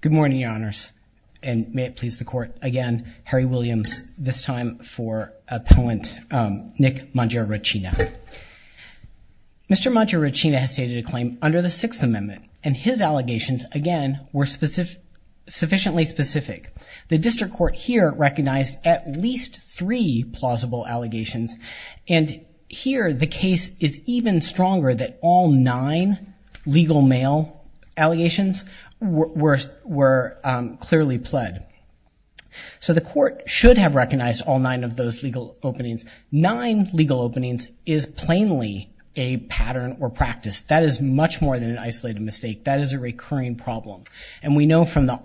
Good morning, Your Honors, and may it please the Court, again, Harry Williams, this time for a poet, Nick Mangiaracina. Mr. Mangiaracina has stated a claim under the Sixth Amendment, and his allegations, again, were sufficiently specific. The District Court here recognized at least three plausible allegations, and here the case is even stronger that all nine legal mail allegations were clearly pled. So the Court should have recognized all nine of those legal openings. Nine legal openings is plainly a pattern or practice. That is much more than an isolated mistake. That is a recurring problem. And we know from the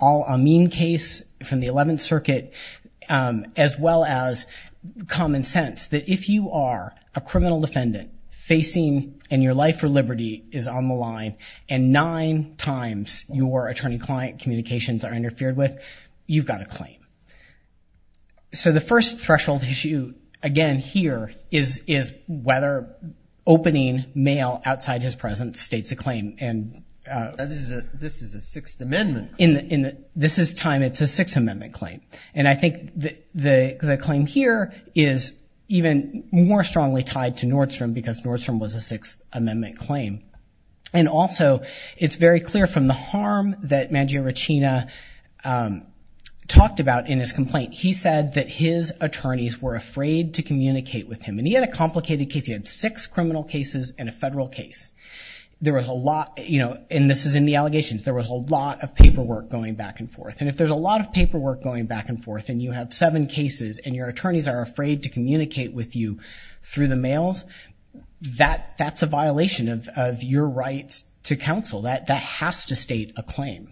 Eleventh Circuit, as well as common sense, that if you are a criminal defendant, facing, and your life for liberty is on the line, and nine times your attorney-client communications are interfered with, you've got a claim. So the first threshold issue, again, here, is whether opening mail outside his presence states a claim. This is a Sixth Amendment claim. This is time, it's a Sixth Amendment claim. And I think the claim here is even more strongly tied to Nordstrom, because Nordstrom was a Sixth Amendment claim. And also, it's very clear from the harm that Mangiaracina talked about in his complaint. He said that his attorneys were afraid to communicate with him. And he had a complicated case. He had six criminal cases and a federal case. There was a lot, you know, and this is in the allegations, there was a lot of paperwork going back and forth. And if there's a lot of paperwork going back and forth, and you have seven cases, and your attorneys are afraid to communicate with you through the mails, that's a violation of your right to counsel. That has to state a claim.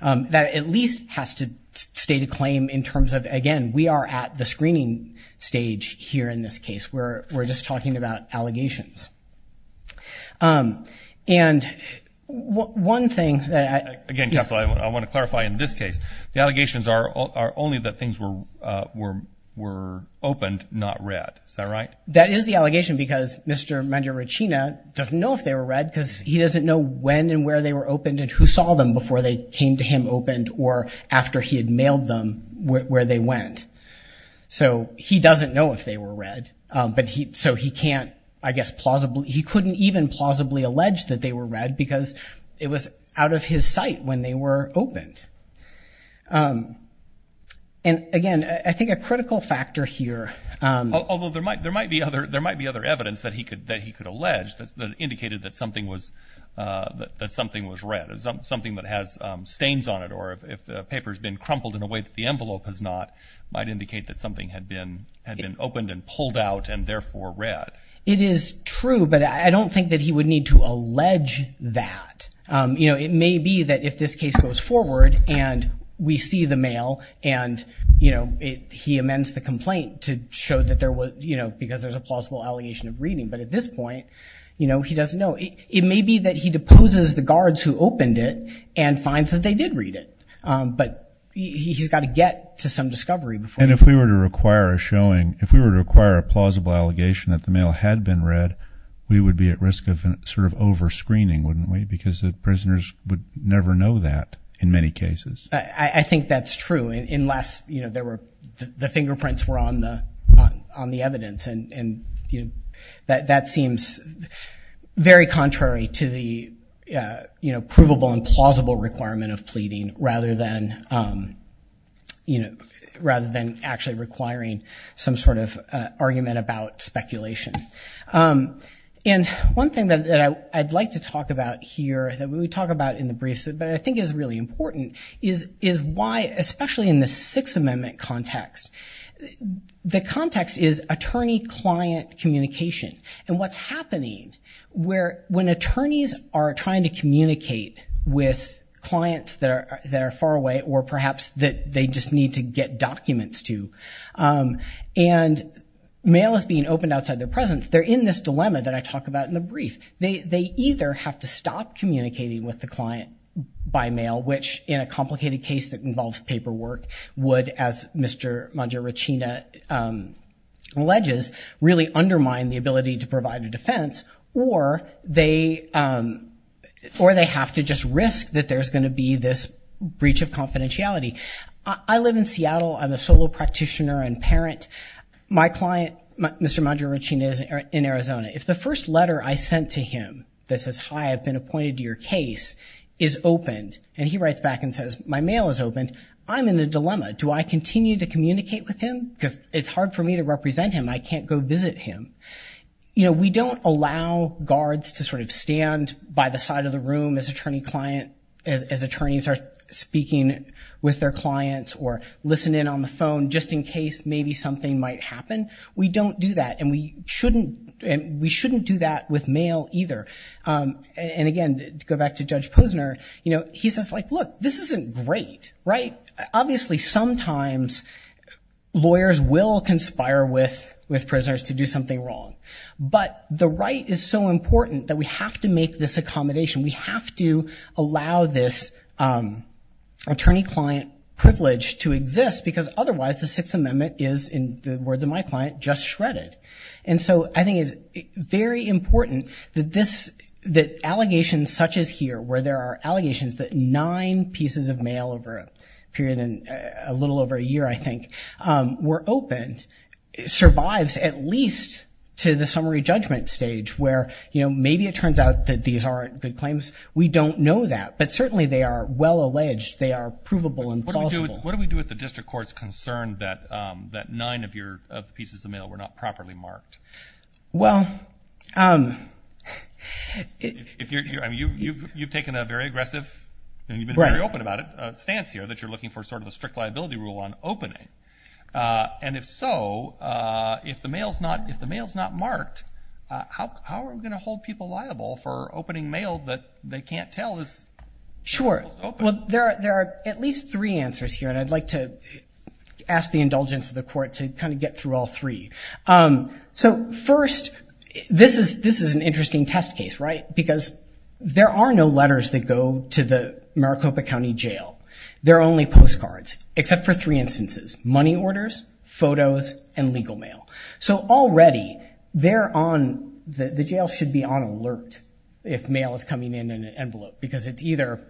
That at least has to state a claim in terms of, again, we are at the screening stage here in this case, where we're just talking about allegations. And one thing that I... Again, Counselor, I want to clarify in this case, the allegations are only that things were opened, not read. Is that right? That is the allegation, because Mr. Mangiaracina doesn't know if they were read, because he doesn't know when and where they were opened and who saw them before they came to him opened or after he had mailed them where they went. So he doesn't know if they were read, so he can't, I guess, plausibly... He couldn't even plausibly allege that they were read, because it was out of his sight when they were opened. And again, I think a critical factor here... Although there might be other evidence that he could allege that indicated that something was read, something that has stains on it, or if the paper has been crumpled in a way that the envelope has not, might indicate that something had been opened and pulled out and therefore read. It is true, but I don't think that he would need to allege that. It may be that if this case goes forward and we see the mail and he amends the complaint to show that there was... Because there's a plausible allegation of reading. But at this point, he doesn't know. It may be that he deposes the guards who opened it and finds that they did read it. But he's got to get to some discovery before... And if we were to require a showing, if we were to require a plausible allegation that the mail had been read, we would be at risk of sort of over-screening, wouldn't we? Because the prisoners would never know that in many cases. I think that's true, unless the fingerprints were on the evidence. And that seems very contrary to the provable and plausible requirement of pleading, rather than actually requiring some sort of argument about speculation. And one thing that I'd like to talk about here, that we talk about in the briefs, but I think is really important, is why, especially in the Sixth Amendment context, the context is attorney-client communication. And what's happening, when attorneys are trying to communicate with clients that are far away, or perhaps that they just need to get documents to, and mail is being opened outside their presence, they're in this dilemma that I talk about in the brief. They either have to stop communicating with the client by mail, which in a complicated case that involves paperwork, would, as Mr. Mangiaricina alleges, really undermine the ability to provide a defense, or they have to just risk that there's going to be this breach of confidentiality. I live in Seattle. I'm a solo practitioner and parent. My client, Mr. Mangiaricina, is in Arizona. If the first letter I sent to him that says, hi, I've been appointed to your case, is opened, and he writes back and says, my mail is opened, I'm in a dilemma. Do I continue to communicate with him? Because it's hard for me to represent him. I can't go visit him. You know, we don't allow guards to sort of stand by the side of the room as attorney-client, as attorneys are speaking with their clients, or listening on the phone just in case maybe something might happen. We don't do that, and we shouldn't do that with mail either. And again, to go back to Judge Posner, you know, he says, like, look, this isn't great, right? Obviously, sometimes lawyers will conspire with prisoners to do something wrong, but the right is so important that we have to make this accommodation. We have to allow this attorney-client privilege to exist, because otherwise the Sixth Amendment is, in the words of my client, just shredded. And so I think it's very important that this, that allegations such as here, where there are allegations that nine pieces of mail over a period of a little over a year, I think, were opened, survives at least to the summary judgment stage where, you know, maybe it turns out that these aren't good claims. We don't know that, but certainly they are well alleged. They are provable and plausible. What do we do with the district court's concern that nine of your pieces of mail were not properly marked? Well, if you're, I mean, you've taken a very aggressive, and you've been very open about it stance here, that you're looking for sort of a strict liability rule on opening. And if so, if the mail's not, if the mail's not marked, how are we going to hold people liable for opening mail that they can't tell is open? Well, there are, there are at least three answers here, and I'd like to ask the indulgence of the court to kind of get through all three. So first, this is, this is an interesting test case, right? Because there are no letters that go to the Maricopa County Jail. They're only postcards, except for three instances, money orders, photos, and legal mail. So already they're on, the jail should be on alert if mail is coming in an envelope, because it's either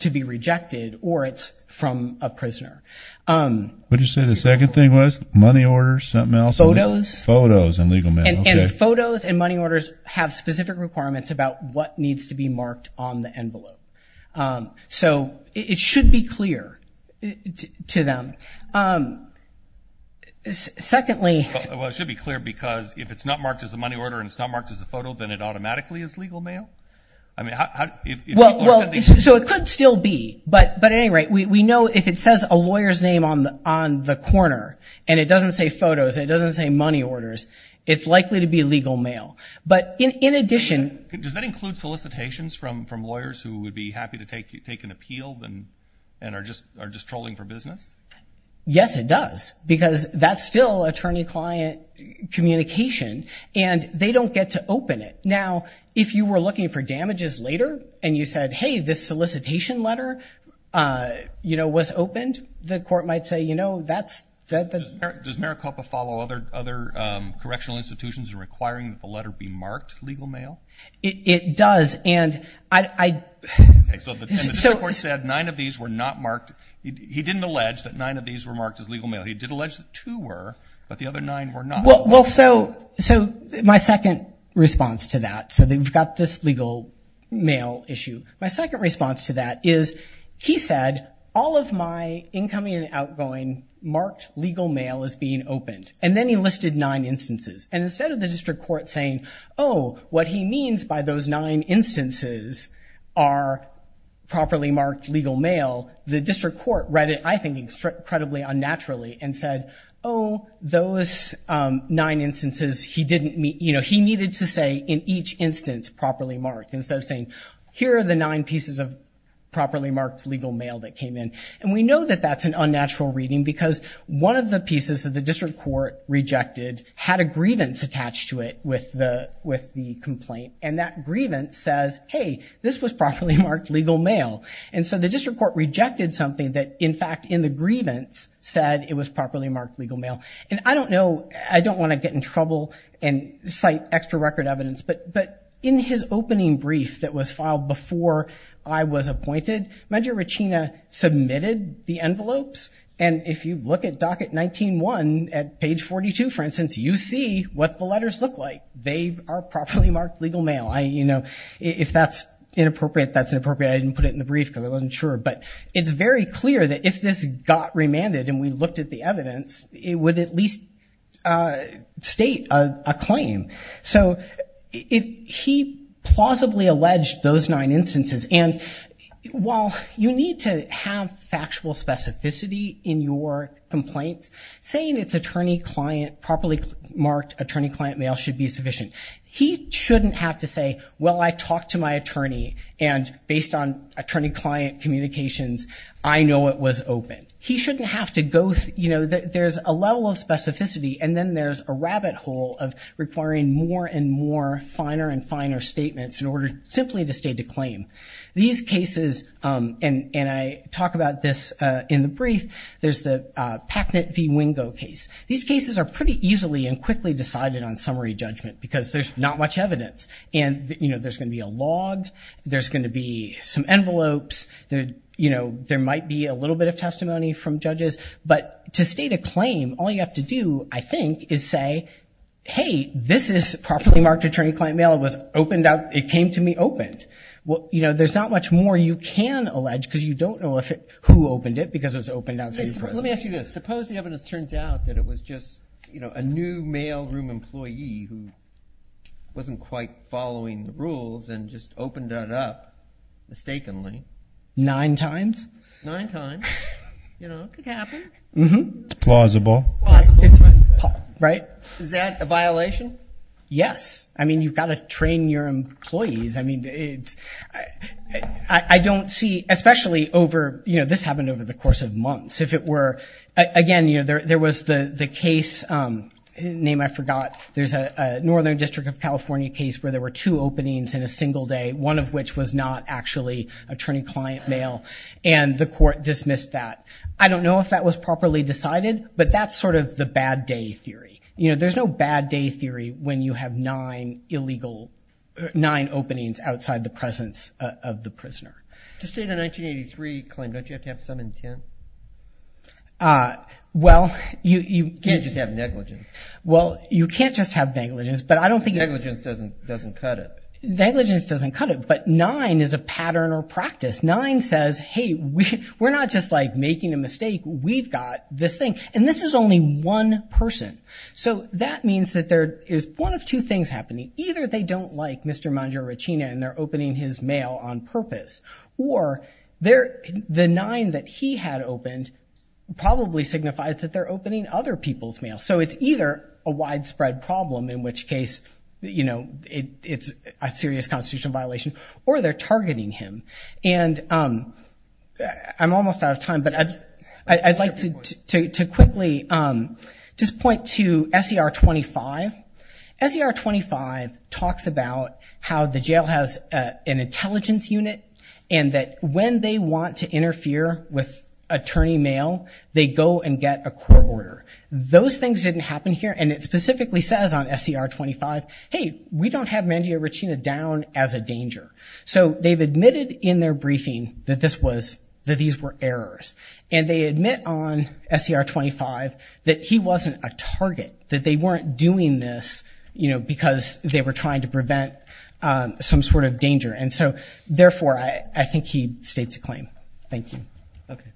to be rejected, or it's from a prisoner. What did you say the second thing was? Money orders, something else? Photos. Photos and legal mail, okay. And photos and money orders have specific requirements about what needs to be marked on the envelope. So it should be clear to them. Secondly... Well, it should be clear because if it's not marked as a money order, and it's not marked as a photo, then it automatically is legal mail? I mean, how, if people are sending... Well, well, so it could still be, but, but at any rate, we, we know if it says a lawyer's name on the, on the corner, and it doesn't say photos, and it doesn't say money orders, it's likely to be legal mail. But in, in addition... Does that include solicitations from, from lawyers who would be happy to take, take an appeal and, and are just, are just trolling for business? Yes, it does, because that's still attorney-client communication, and they don't get to, to open it. Now, if you were looking for damages later, and you said, hey, this solicitation letter, you know, was opened, the court might say, you know, that's, that, that... Does Maricopa follow other, other correctional institutions in requiring that the letter be marked legal mail? It does, and I, I... Okay, so the, and the district court said nine of these were not marked. He didn't allege that nine of these were marked as legal mail. He did allege that two were, but the other nine were not. Well, well, so, so my second response to that, so they've got this legal mail issue. My second response to that is, he said, all of my incoming and outgoing marked legal mail is being opened, and then he listed nine instances. And instead of the district court saying, oh, what he means by those nine instances are properly marked legal mail, the district court read it, I think, incredibly unnaturally and said, oh, those nine instances, he didn't, you know, he needed to say, in each instance, properly marked, instead of saying, here are the nine pieces of properly marked legal mail that came in. And we know that that's an unnatural reading because one of the pieces that the district court rejected had a grievance attached to it with the, with the complaint, and that grievance says, hey, this was properly marked legal mail. And so the district court rejected something that, in fact, in the grievance said it was properly marked legal mail. And I don't know, I don't want to get in trouble and cite extra record evidence, but, but in his opening brief that was filed before I was appointed, Medgar Ruchina submitted the envelopes. And if you look at docket 19-1 at page 42, for instance, you see what the letters look like. They are properly marked legal mail. I, you know, if that's inappropriate, that's inappropriate. I didn't put it in the brief because I wasn't sure. But it's very clear that if this got remanded and we looked at the evidence, it would at least state a claim. So it, he plausibly alleged those nine instances. And while you need to have factual specificity in your complaints, saying it's attorney client, properly marked attorney client mail should be sufficient. He shouldn't have to say, well, I talked to my attorney and based on attorney client communications, I know it was open. He shouldn't have to go, you know, there's a level of specificity and then there's a rabbit hole of requiring more and more finer and finer statements in order simply to state a claim. These cases, and, and I talk about this in the brief, there's the Packnett v. Wingo case. These cases are pretty easily and quickly decided on summary judgment because there's not much evidence and, you know, there's going to be a log, there's going to be some envelopes that, you know, there might be a little bit of testimony from judges, but to state a claim, all you have to do, I think, is say, hey, this is properly marked attorney client mail. It was opened up. It came to me opened. Well, you know, there's not much more you can allege because you don't know if it, who opened it because it was opened out. Let me ask you this. Suppose the evidence turns out that it was just, you know, a new mailroom employee who wasn't quite following the rules and just opened it up mistakenly. Nine times? Nine times. You know, it could happen. Mm-hmm. Plausible. Right. Is that a violation? Yes. I mean, you've got to train your employees. I mean, I don't see, especially over, you know, this happened over the course of months. If it were, again, you know, there was the case, name I forgot, there's a Northern District of California case where there were two openings in a single day, one of which was not actually attorney client mail, and the court dismissed that. I don't know if that was properly decided, but that's sort of the bad day theory. You know, there's no bad day theory when you have nine illegal, nine openings outside the presence of the prisoner. To state a 1983 claim, don't you have to have some intent? Well, you can't just have negligence. Well, you can't just have negligence, but I don't think... Negligence doesn't cut it. Negligence doesn't cut it, but nine is a pattern or practice. Nine says, hey, we're not just, like, making a mistake. We've got this thing, and this is only one person. So that means that there is one of two things happening. Either they don't like Mr. Mangiorecina and they're opening his mail on purpose, or the nine that he had opened probably signifies that they're opening other people's mail. So it's either a widespread problem, in which case, you know, it's a serious constitutional violation, or they're targeting him. And I'm almost out of time, but I'd like to quickly just point to S.E.R. 25. S.E.R. 25 talks about how the jail has an intelligence unit, and that when they want to interfere with attorney mail, they go and get a court order. Those things didn't happen here, and it specifically says on S.E.R. 25, hey, we don't have Mangiorecina down as a danger. So they've admitted in their briefing that this was, that these were errors, and they admit on S.E.R. 25 that he wasn't a target, that they weren't doing this, you know, because they were trying to prevent some sort of danger. And so, therefore, I think he states a claim. Thank you. Okay.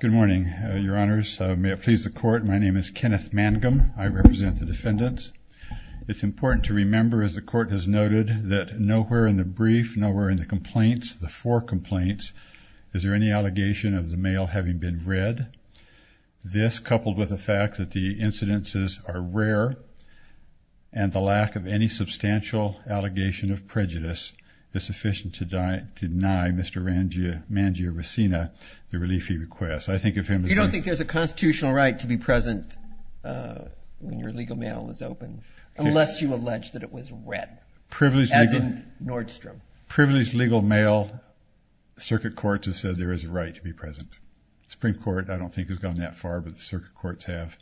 Good morning, Your Honors. May it please the Court, my name is Kenneth Mangum. I represent the defendants. It's important to remember, as the Court has noted, that nowhere in the brief, nowhere in the complaints, the four complaints, is there any allegation of the mail having been read. This, coupled with the fact that the incidences are rare, and the lack of any substantial allegation of prejudice is sufficient to deny Mr. Mangiorecina the relief he requests. I think if him... You don't think there's a constitutional right to be present when your legal mail is open, unless you allege that it was read, as in Nordstrom. Privileged legal mail, circuit courts have said there is a right to be present. Supreme Court I don't think has gone that far, but the circuit courts have.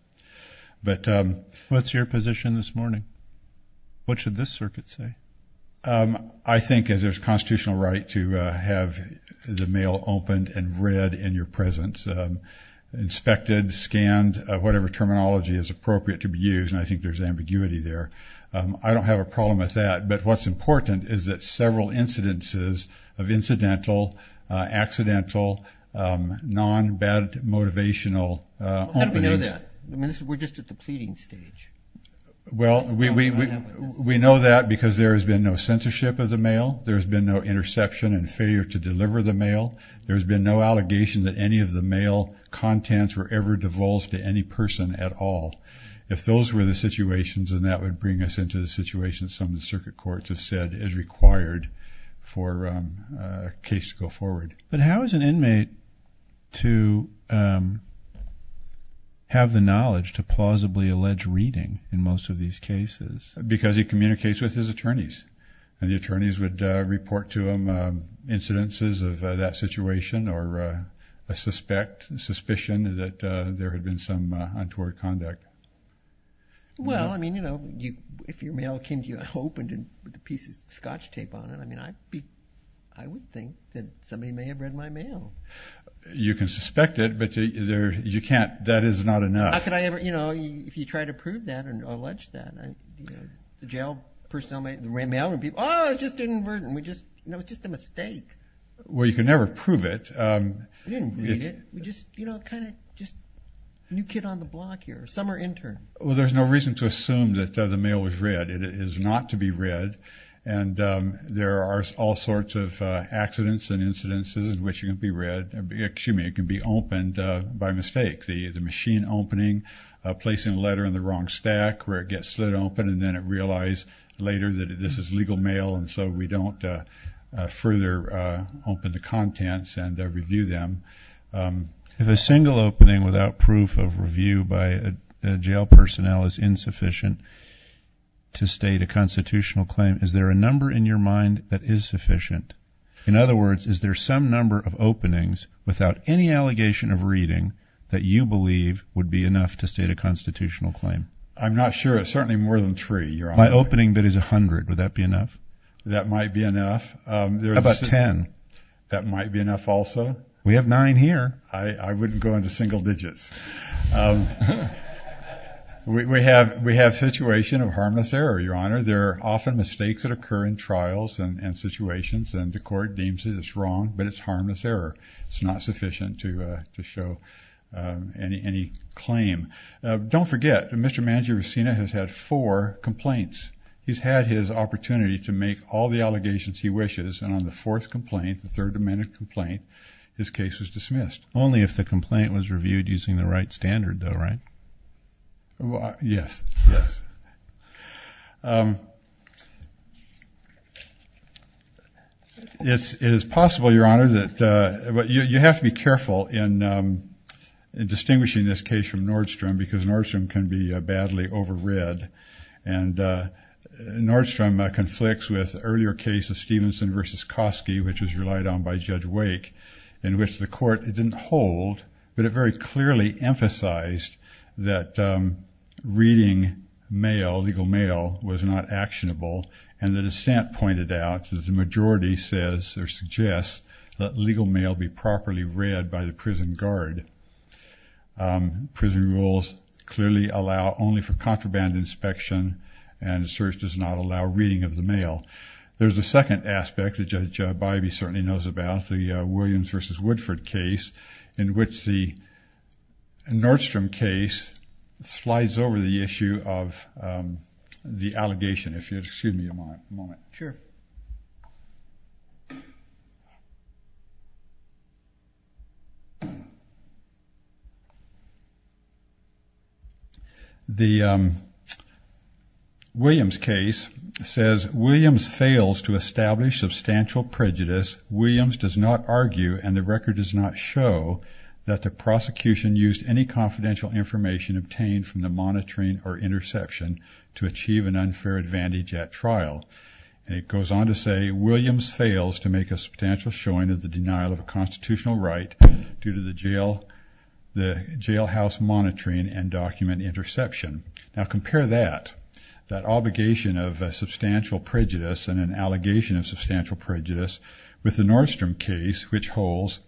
But what's your position this morning? What should this circuit say? I think as there's constitutional right to have the mail opened and read in your presence, inspected, scanned, whatever terminology is appropriate to be used, and I think there's ambiguity there. I don't have a problem with that. But what's important is that several incidences of incidental, accidental, non bad motivational... How do we know that? We're just at the pleading stage. Well, we know that because there has been no censorship of the mail. There's been no interception and failure to deliver the mail. There's been no allegation that any of the mail contents were ever divulged to any person at all. If those were the situations, and that would bring us into the situation some of the circuit courts have said is required for a case to go forward. But how is an inmate to have the knowledge to plausibly allege reading in most of these cases? Because he communicates with his attorneys, and the attorneys would report to him incidences of that situation or a suspicion that there had been some untoward conduct. Well, I mean, you know, if your mail came to you unopened and with the pieces of scotch tape on it, I mean, I would think that somebody may have read my mail. You can suspect it, but you can't, that is not enough. How could I ever, you know, if you try to prove that and allege that, the jail personnel may read my mail and people, oh, it's just an inverted, it's just a mistake. Well, you can never prove it. We didn't read it. We just, you know, kind of just a new kid on the block here, a summer intern. Well, there's no reason to assume that the mail was read. It is not to be read. And there are all sorts of accidents and incidences in which it can be read, excuse me, it can be opened by mistake. The machine opening, placing a letter in the wrong stack where it gets slid open, and then it realized later that this is legal mail. And so we don't further open the contents and review them. If a single opening without proof of review by a jail personnel is insufficient to state a constitutional claim, is there a number in your mind that is sufficient? In other words, is there some number of openings without any allegation of reading that you believe would be enough to state a constitutional claim? I'm not sure. It's certainly more than three. My opening bid is a hundred. Would that be enough? That might be enough. How about ten? That might be enough also. We have nine here. I wouldn't go into single digits. We have a situation of harmless error, Your Honor. There are often mistakes that occur in trials and situations, and the court deems it as wrong, but it's harmless error. It's not sufficient to show any claim. Don't forget, Mr. Mangiaricina has had four complaints. He's had his opportunity to make all the allegations he wishes. And on the fourth complaint, the Third Amendment complaint, his case was dismissed. Only if the complaint was reviewed using the right standard, though, right? Yes. Yes. It is possible, Your Honor, that you have to be careful in distinguishing this case from Nordstrom because Nordstrom can be badly over-read. And Nordstrom conflicts with an earlier case of Stevenson v. Kosky, which was relied on by Judge Wake, in which the court didn't hold, but it very clearly emphasized that reading mail, legal mail, was not actionable. And the dissent pointed out that the majority says or suggests that legal mail be properly read by the prison guard. But prison rules clearly allow only for contraband inspection, and the search does not allow reading of the mail. There's a second aspect that Judge Bybee certainly knows about, the Williams v. Woodford case, in which the Nordstrom case slides over the issue of the allegation. If you'd excuse me a moment. Sure. The Williams case says, Williams fails to establish substantial prejudice. Williams does not argue, and the record does not show, that the prosecution used any confidential information obtained from the monitoring or interception to achieve an unfair advantage at trial. It goes on to say, Williams fails to make a substantial showing of the denial of a constitutional right due to the jail, the jailhouse monitoring and document interception. Now compare that, that obligation of substantial prejudice and an allegation of substantial prejudice with the Nordstrom case, which holds,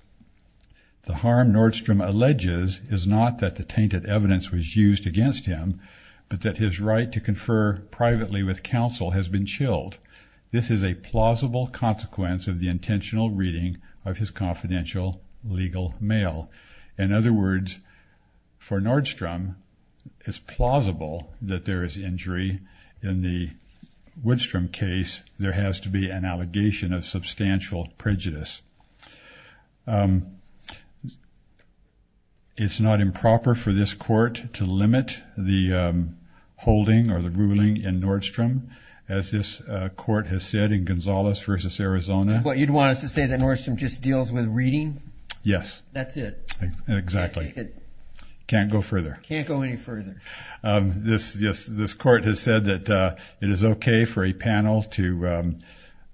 the harm Nordstrom alleges is not that the tainted evidence was used against him, but that his right to confer privately with counsel has been chilled. This is a plausible consequence of the intentional reading of his confidential legal mail. In other words, for Nordstrom, it's plausible that there is injury in the Woodstrom case. There has to be an allegation of substantial prejudice. It's not improper for this court to limit the holding or the ruling in Nordstrom, as this court has said in Gonzales versus Arizona, what you'd want us to say that Nordstrom just deals with reading. Yes, that's it. Exactly. Can't go further. Can't go any further. This, this, this court has said that it is okay for a panel to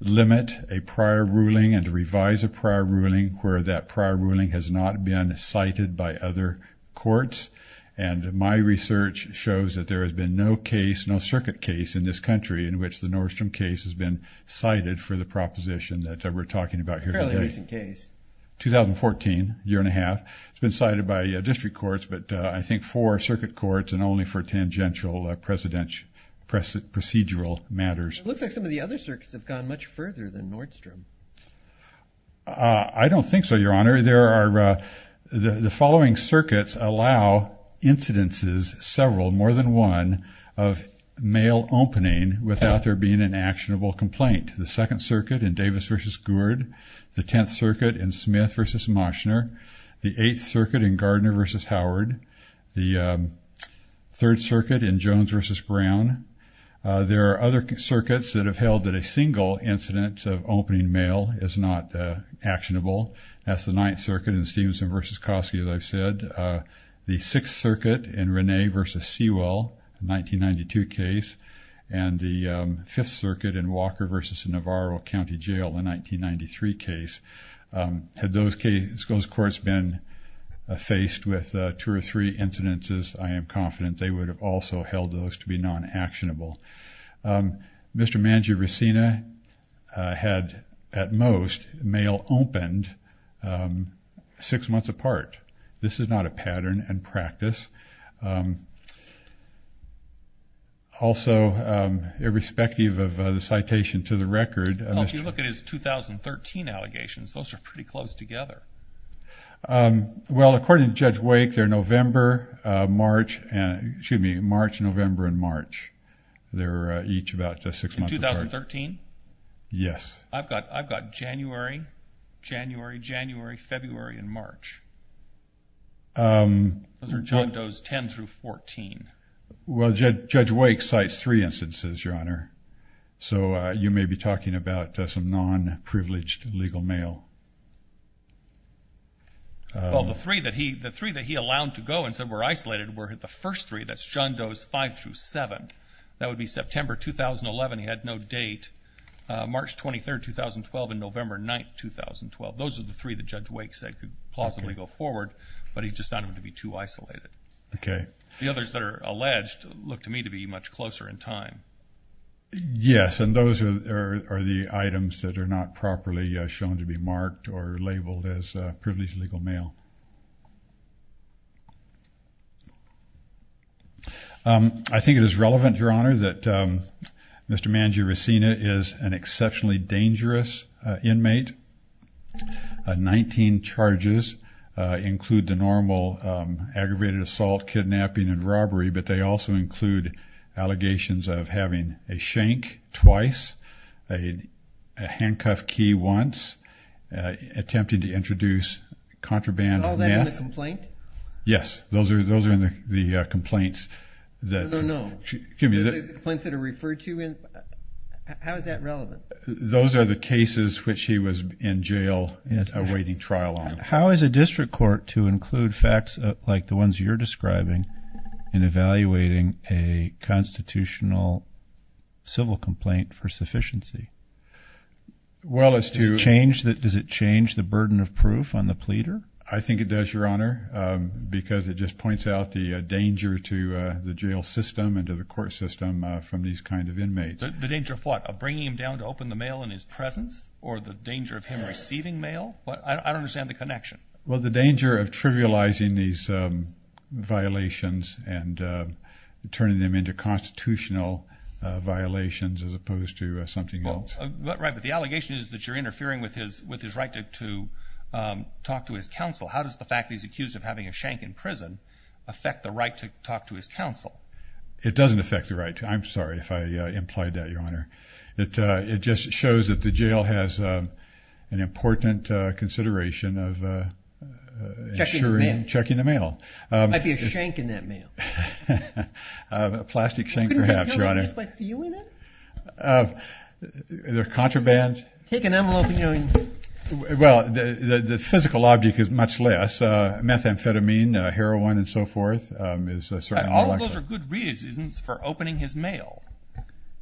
limit a prior ruling and to revise a prior ruling where that prior ruling has not been cited by other courts. And my research shows that there has been no case, no circuit case in this country in which the Nordstrom case has been cited for the proposition that we're talking about here. Fairly recent case. 2014 year and a half. It's been cited by a district courts, but I think four circuit courts and only for tangential presidential precedent, procedural matters. It looks like some of the other circuits have gone much further than Nordstrom. Uh, I don't think so. Your honor, there are, uh, the, the following circuits allow incidences, several more than one of mail opening without there being an actionable complaint. The second circuit in Davis versus Gourd, the 10th circuit in Smith versus Moschner, the eighth circuit in Gardner versus Howard, the, um, third circuit in Jones versus Brown. Uh, there are other circuits that have held that a single incident of opening mail is not, uh, actionable. That's the ninth circuit in Stevenson versus Kosky. As I've said, uh, the sixth circuit in Renee versus Sewell 1992 case and the, um, fifth circuit in Walker versus Navarro County jail in 1993 case. Um, had those cases, those courts been, uh, faced with, uh, two or three incidences, I am confident they would have also held those to be non-actionable. Um, Mr. Mangi-Racina, uh, had at most mail opened, um, six months apart. This is not a pattern and practice. Um, also, um, irrespective of the citation to the record. Well, if you look at his 2013 allegations, those are pretty close together. Um, well, according to Judge Wake, they're November, uh, March and excuse me, March, November, and March. They're, uh, each about six months apart. In 2013? Yes. I've got, I've got January, January, January, February, and March. Um. Those are John Doe's 10 through 14. Well, Judge Wake cites three instances, Your Honor. So, uh, you may be talking about some non-privileged legal mail. Well, the three that he, the three that he allowed to go and said were isolated were the first three. That's John Doe's five through seven. That would be September, 2011. He had no date. Uh, March 23rd, 2012 and November 9th, 2012. Those are the three that Judge Wake said could plausibly go forward, but he just found them to be too isolated. Okay. The others that are alleged look to me to be much closer in time. Yes. And those are, are the items that are not properly shown to be marked or labeled as a privileged legal mail. Um, I think it is relevant, Your Honor, that, um, Mr. Mangio-Racina is an exceptionally dangerous, uh, inmate. Uh, 19 charges, uh, include the normal, um, aggravated assault, kidnapping and robbery, but they also include allegations of having a shank twice, a handcuff key once, uh, attempting to introduce contraband to the victim. Is all that in the complaint? Yes. Those are, those are in the, uh, complaints that. No, no. Excuse me. The complaints that are referred to in, how is that relevant? Those are the cases which he was in jail awaiting trial on. How is a district court to include facts like the ones you're describing in evaluating a constitutional civil complaint for sufficiency? Well, as to. Change that, does it change the burden of proof on the pleader? I think it does, Your Honor. Um, because it just points out the, uh, danger to, uh, the jail system and to the court system, uh, from these kinds of inmates. The danger of what? Of bringing him down to open the mail in his presence or the danger of him receiving mail? But I don't understand the connection. Well, the danger of trivializing these, um, violations and, uh, turning them into constitutional, uh, violations as opposed to something else. Right. But the allegation is that you're interfering with his, with his right to, to, um, talk to his counsel. How does the fact that he's accused of having a shank in prison affect the right to talk to his counsel? It doesn't affect the right. I'm sorry if I implied that, Your Honor. It, uh, it just shows that the jail has, um, an important, uh, consideration of, uh, uh, ensuring checking the mail. Um, might be a shank in that mail. Uh, plastic shank perhaps, Your Honor. By viewing it? Uh, the contraband. Take an envelope and you know. Well, the, the, the physical object is much less, uh, methamphetamine, uh, heroin and so forth. Um, is a certain. All of those are good reasons for opening his mail.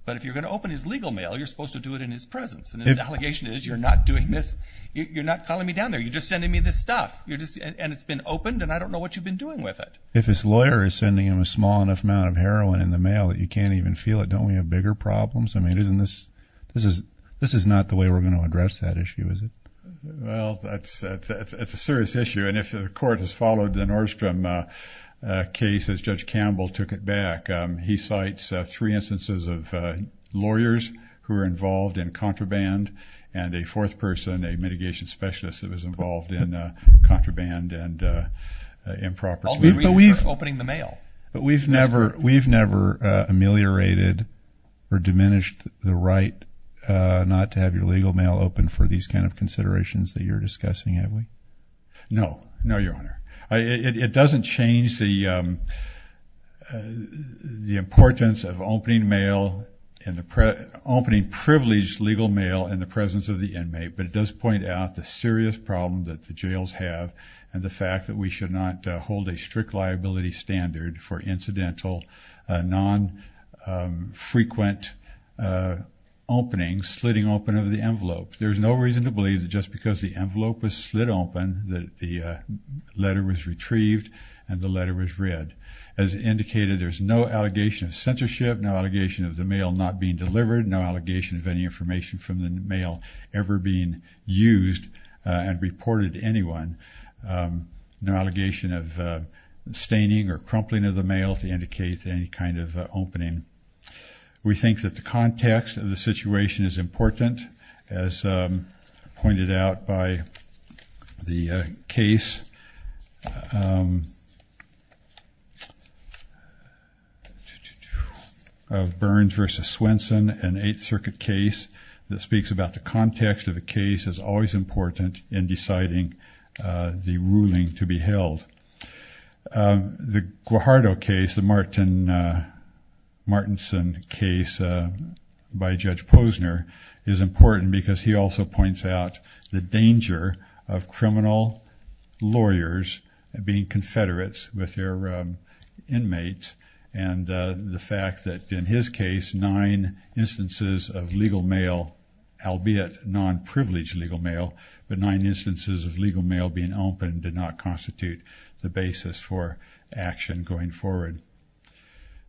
But if you're going to open his legal mail, you're supposed to do it in his presence. And the allegation is you're not doing this. You're not calling me down there. You're just sending me this stuff. You're just, and it's been opened and I don't know what you've been doing with it. If his lawyer is sending him a small enough amount of heroin in the mail that you can't even feel it. Don't we have bigger problems? I mean, isn't this, this is, this is not the way we're going to address that issue, is it? Well, that's a, it's a, it's a serious issue. And if the court has followed the Nordstrom, uh, uh, cases, Judge Campbell took it back. Um, he cites, uh, three instances of, uh, lawyers who are involved in contraband and a fourth person, a mitigation specialist that was involved in, uh, contraband and, uh, uh, improper. Opening the mail, but we've never, we've never, uh, ameliorated or diminished the right, uh, not to have your legal mail open for these kinds of considerations that you're discussing, have we? No, no, your honor. I, it, it doesn't change the, um, uh, the importance of opening mail in the pre opening privileged legal mail in the presence of the inmate, but it does point out the serious problem that the jails have and the fact that we should not hold a strict liability standard for incidental, uh, non, um, frequent, uh, opening, slitting open of the envelope. There's no reason to believe that just because the envelope was slid open, that the, uh, letter was retrieved and the letter was read as indicated. There's no allegation of censorship, no allegation of the mail, not being delivered, no allegation of any information from the mail ever being used, uh, and reported to anyone. Um, no allegation of, uh, staining or crumpling of the mail to indicate any kind of opening. We think that the context of the situation is important as, um, pointed out by the case, um, of Burns versus Swenson and eighth circuit case that about the context of the case is always important in deciding, uh, the ruling to be held. Um, the Guajardo case, the Martin, uh, Martinson case, uh, by judge Posner is important because he also points out the danger of criminal lawyers being Confederates with their, um, inmates. And, uh, the fact that in his case, nine instances of legal mail, albeit non-privileged legal mail, but nine instances of legal mail being opened did not constitute the basis for action going forward.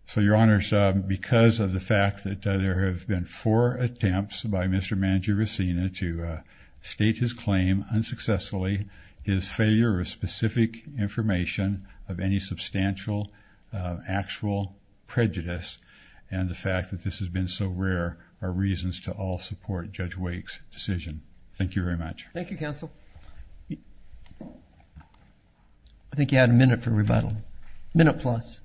So your honors, um, because of the fact that, uh, there have been four attempts by Mr. Manjiracina to, uh, state his claim unsuccessfully, his failure of specific information of any substantial, uh, actual prejudice and the fact that this has been so rare are reasons to all support Judge Wake's decision. Thank you very much. Thank you counsel. I think you had a minute for rebuttal. Minute plus.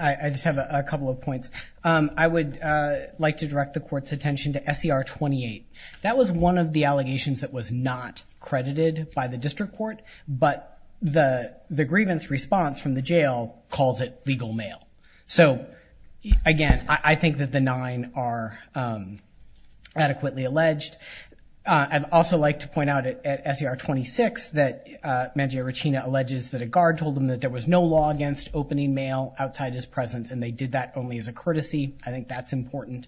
I just have a couple of points. Um, I would, uh, like to direct the court's attention to SCR 28. That was one of the allegations that was not credited by the district court, but the, the grievance response from the jail calls it legal mail. So again, I think that the nine are, um, adequately alleged. Uh, I'd also like to point out at SCR 26 that, uh, Manjiracina alleges that a guard told him that there was no law against opening mail outside his presence. And they did that only as a courtesy. I think that's important.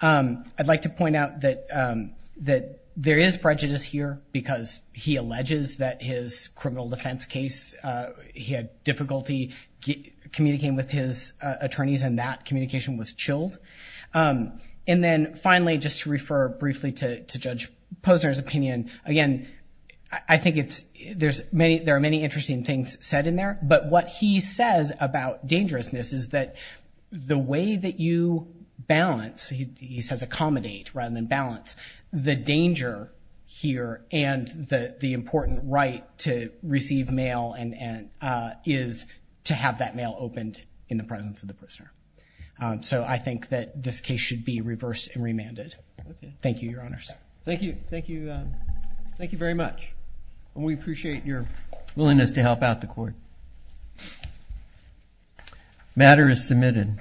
Um, I'd like to point out that, um, that there is prejudice here because he had difficulty communicating with his attorneys and that communication was chilled. Um, and then finally, just to refer briefly to, to Judge Posner's opinion. Again, I think it's, there's many, there are many interesting things said in there, but what he says about dangerousness is that the way that you balance, he says accommodate rather than balance the danger here and the important right to receive mail and, and, uh, is to have that mail opened in the presence of the prisoner. Um, so I think that this case should be reversed and remanded. Thank you, your honors. Thank you. Thank you. Um, thank you very much. And we appreciate your willingness to help out the court. Matter is submitted.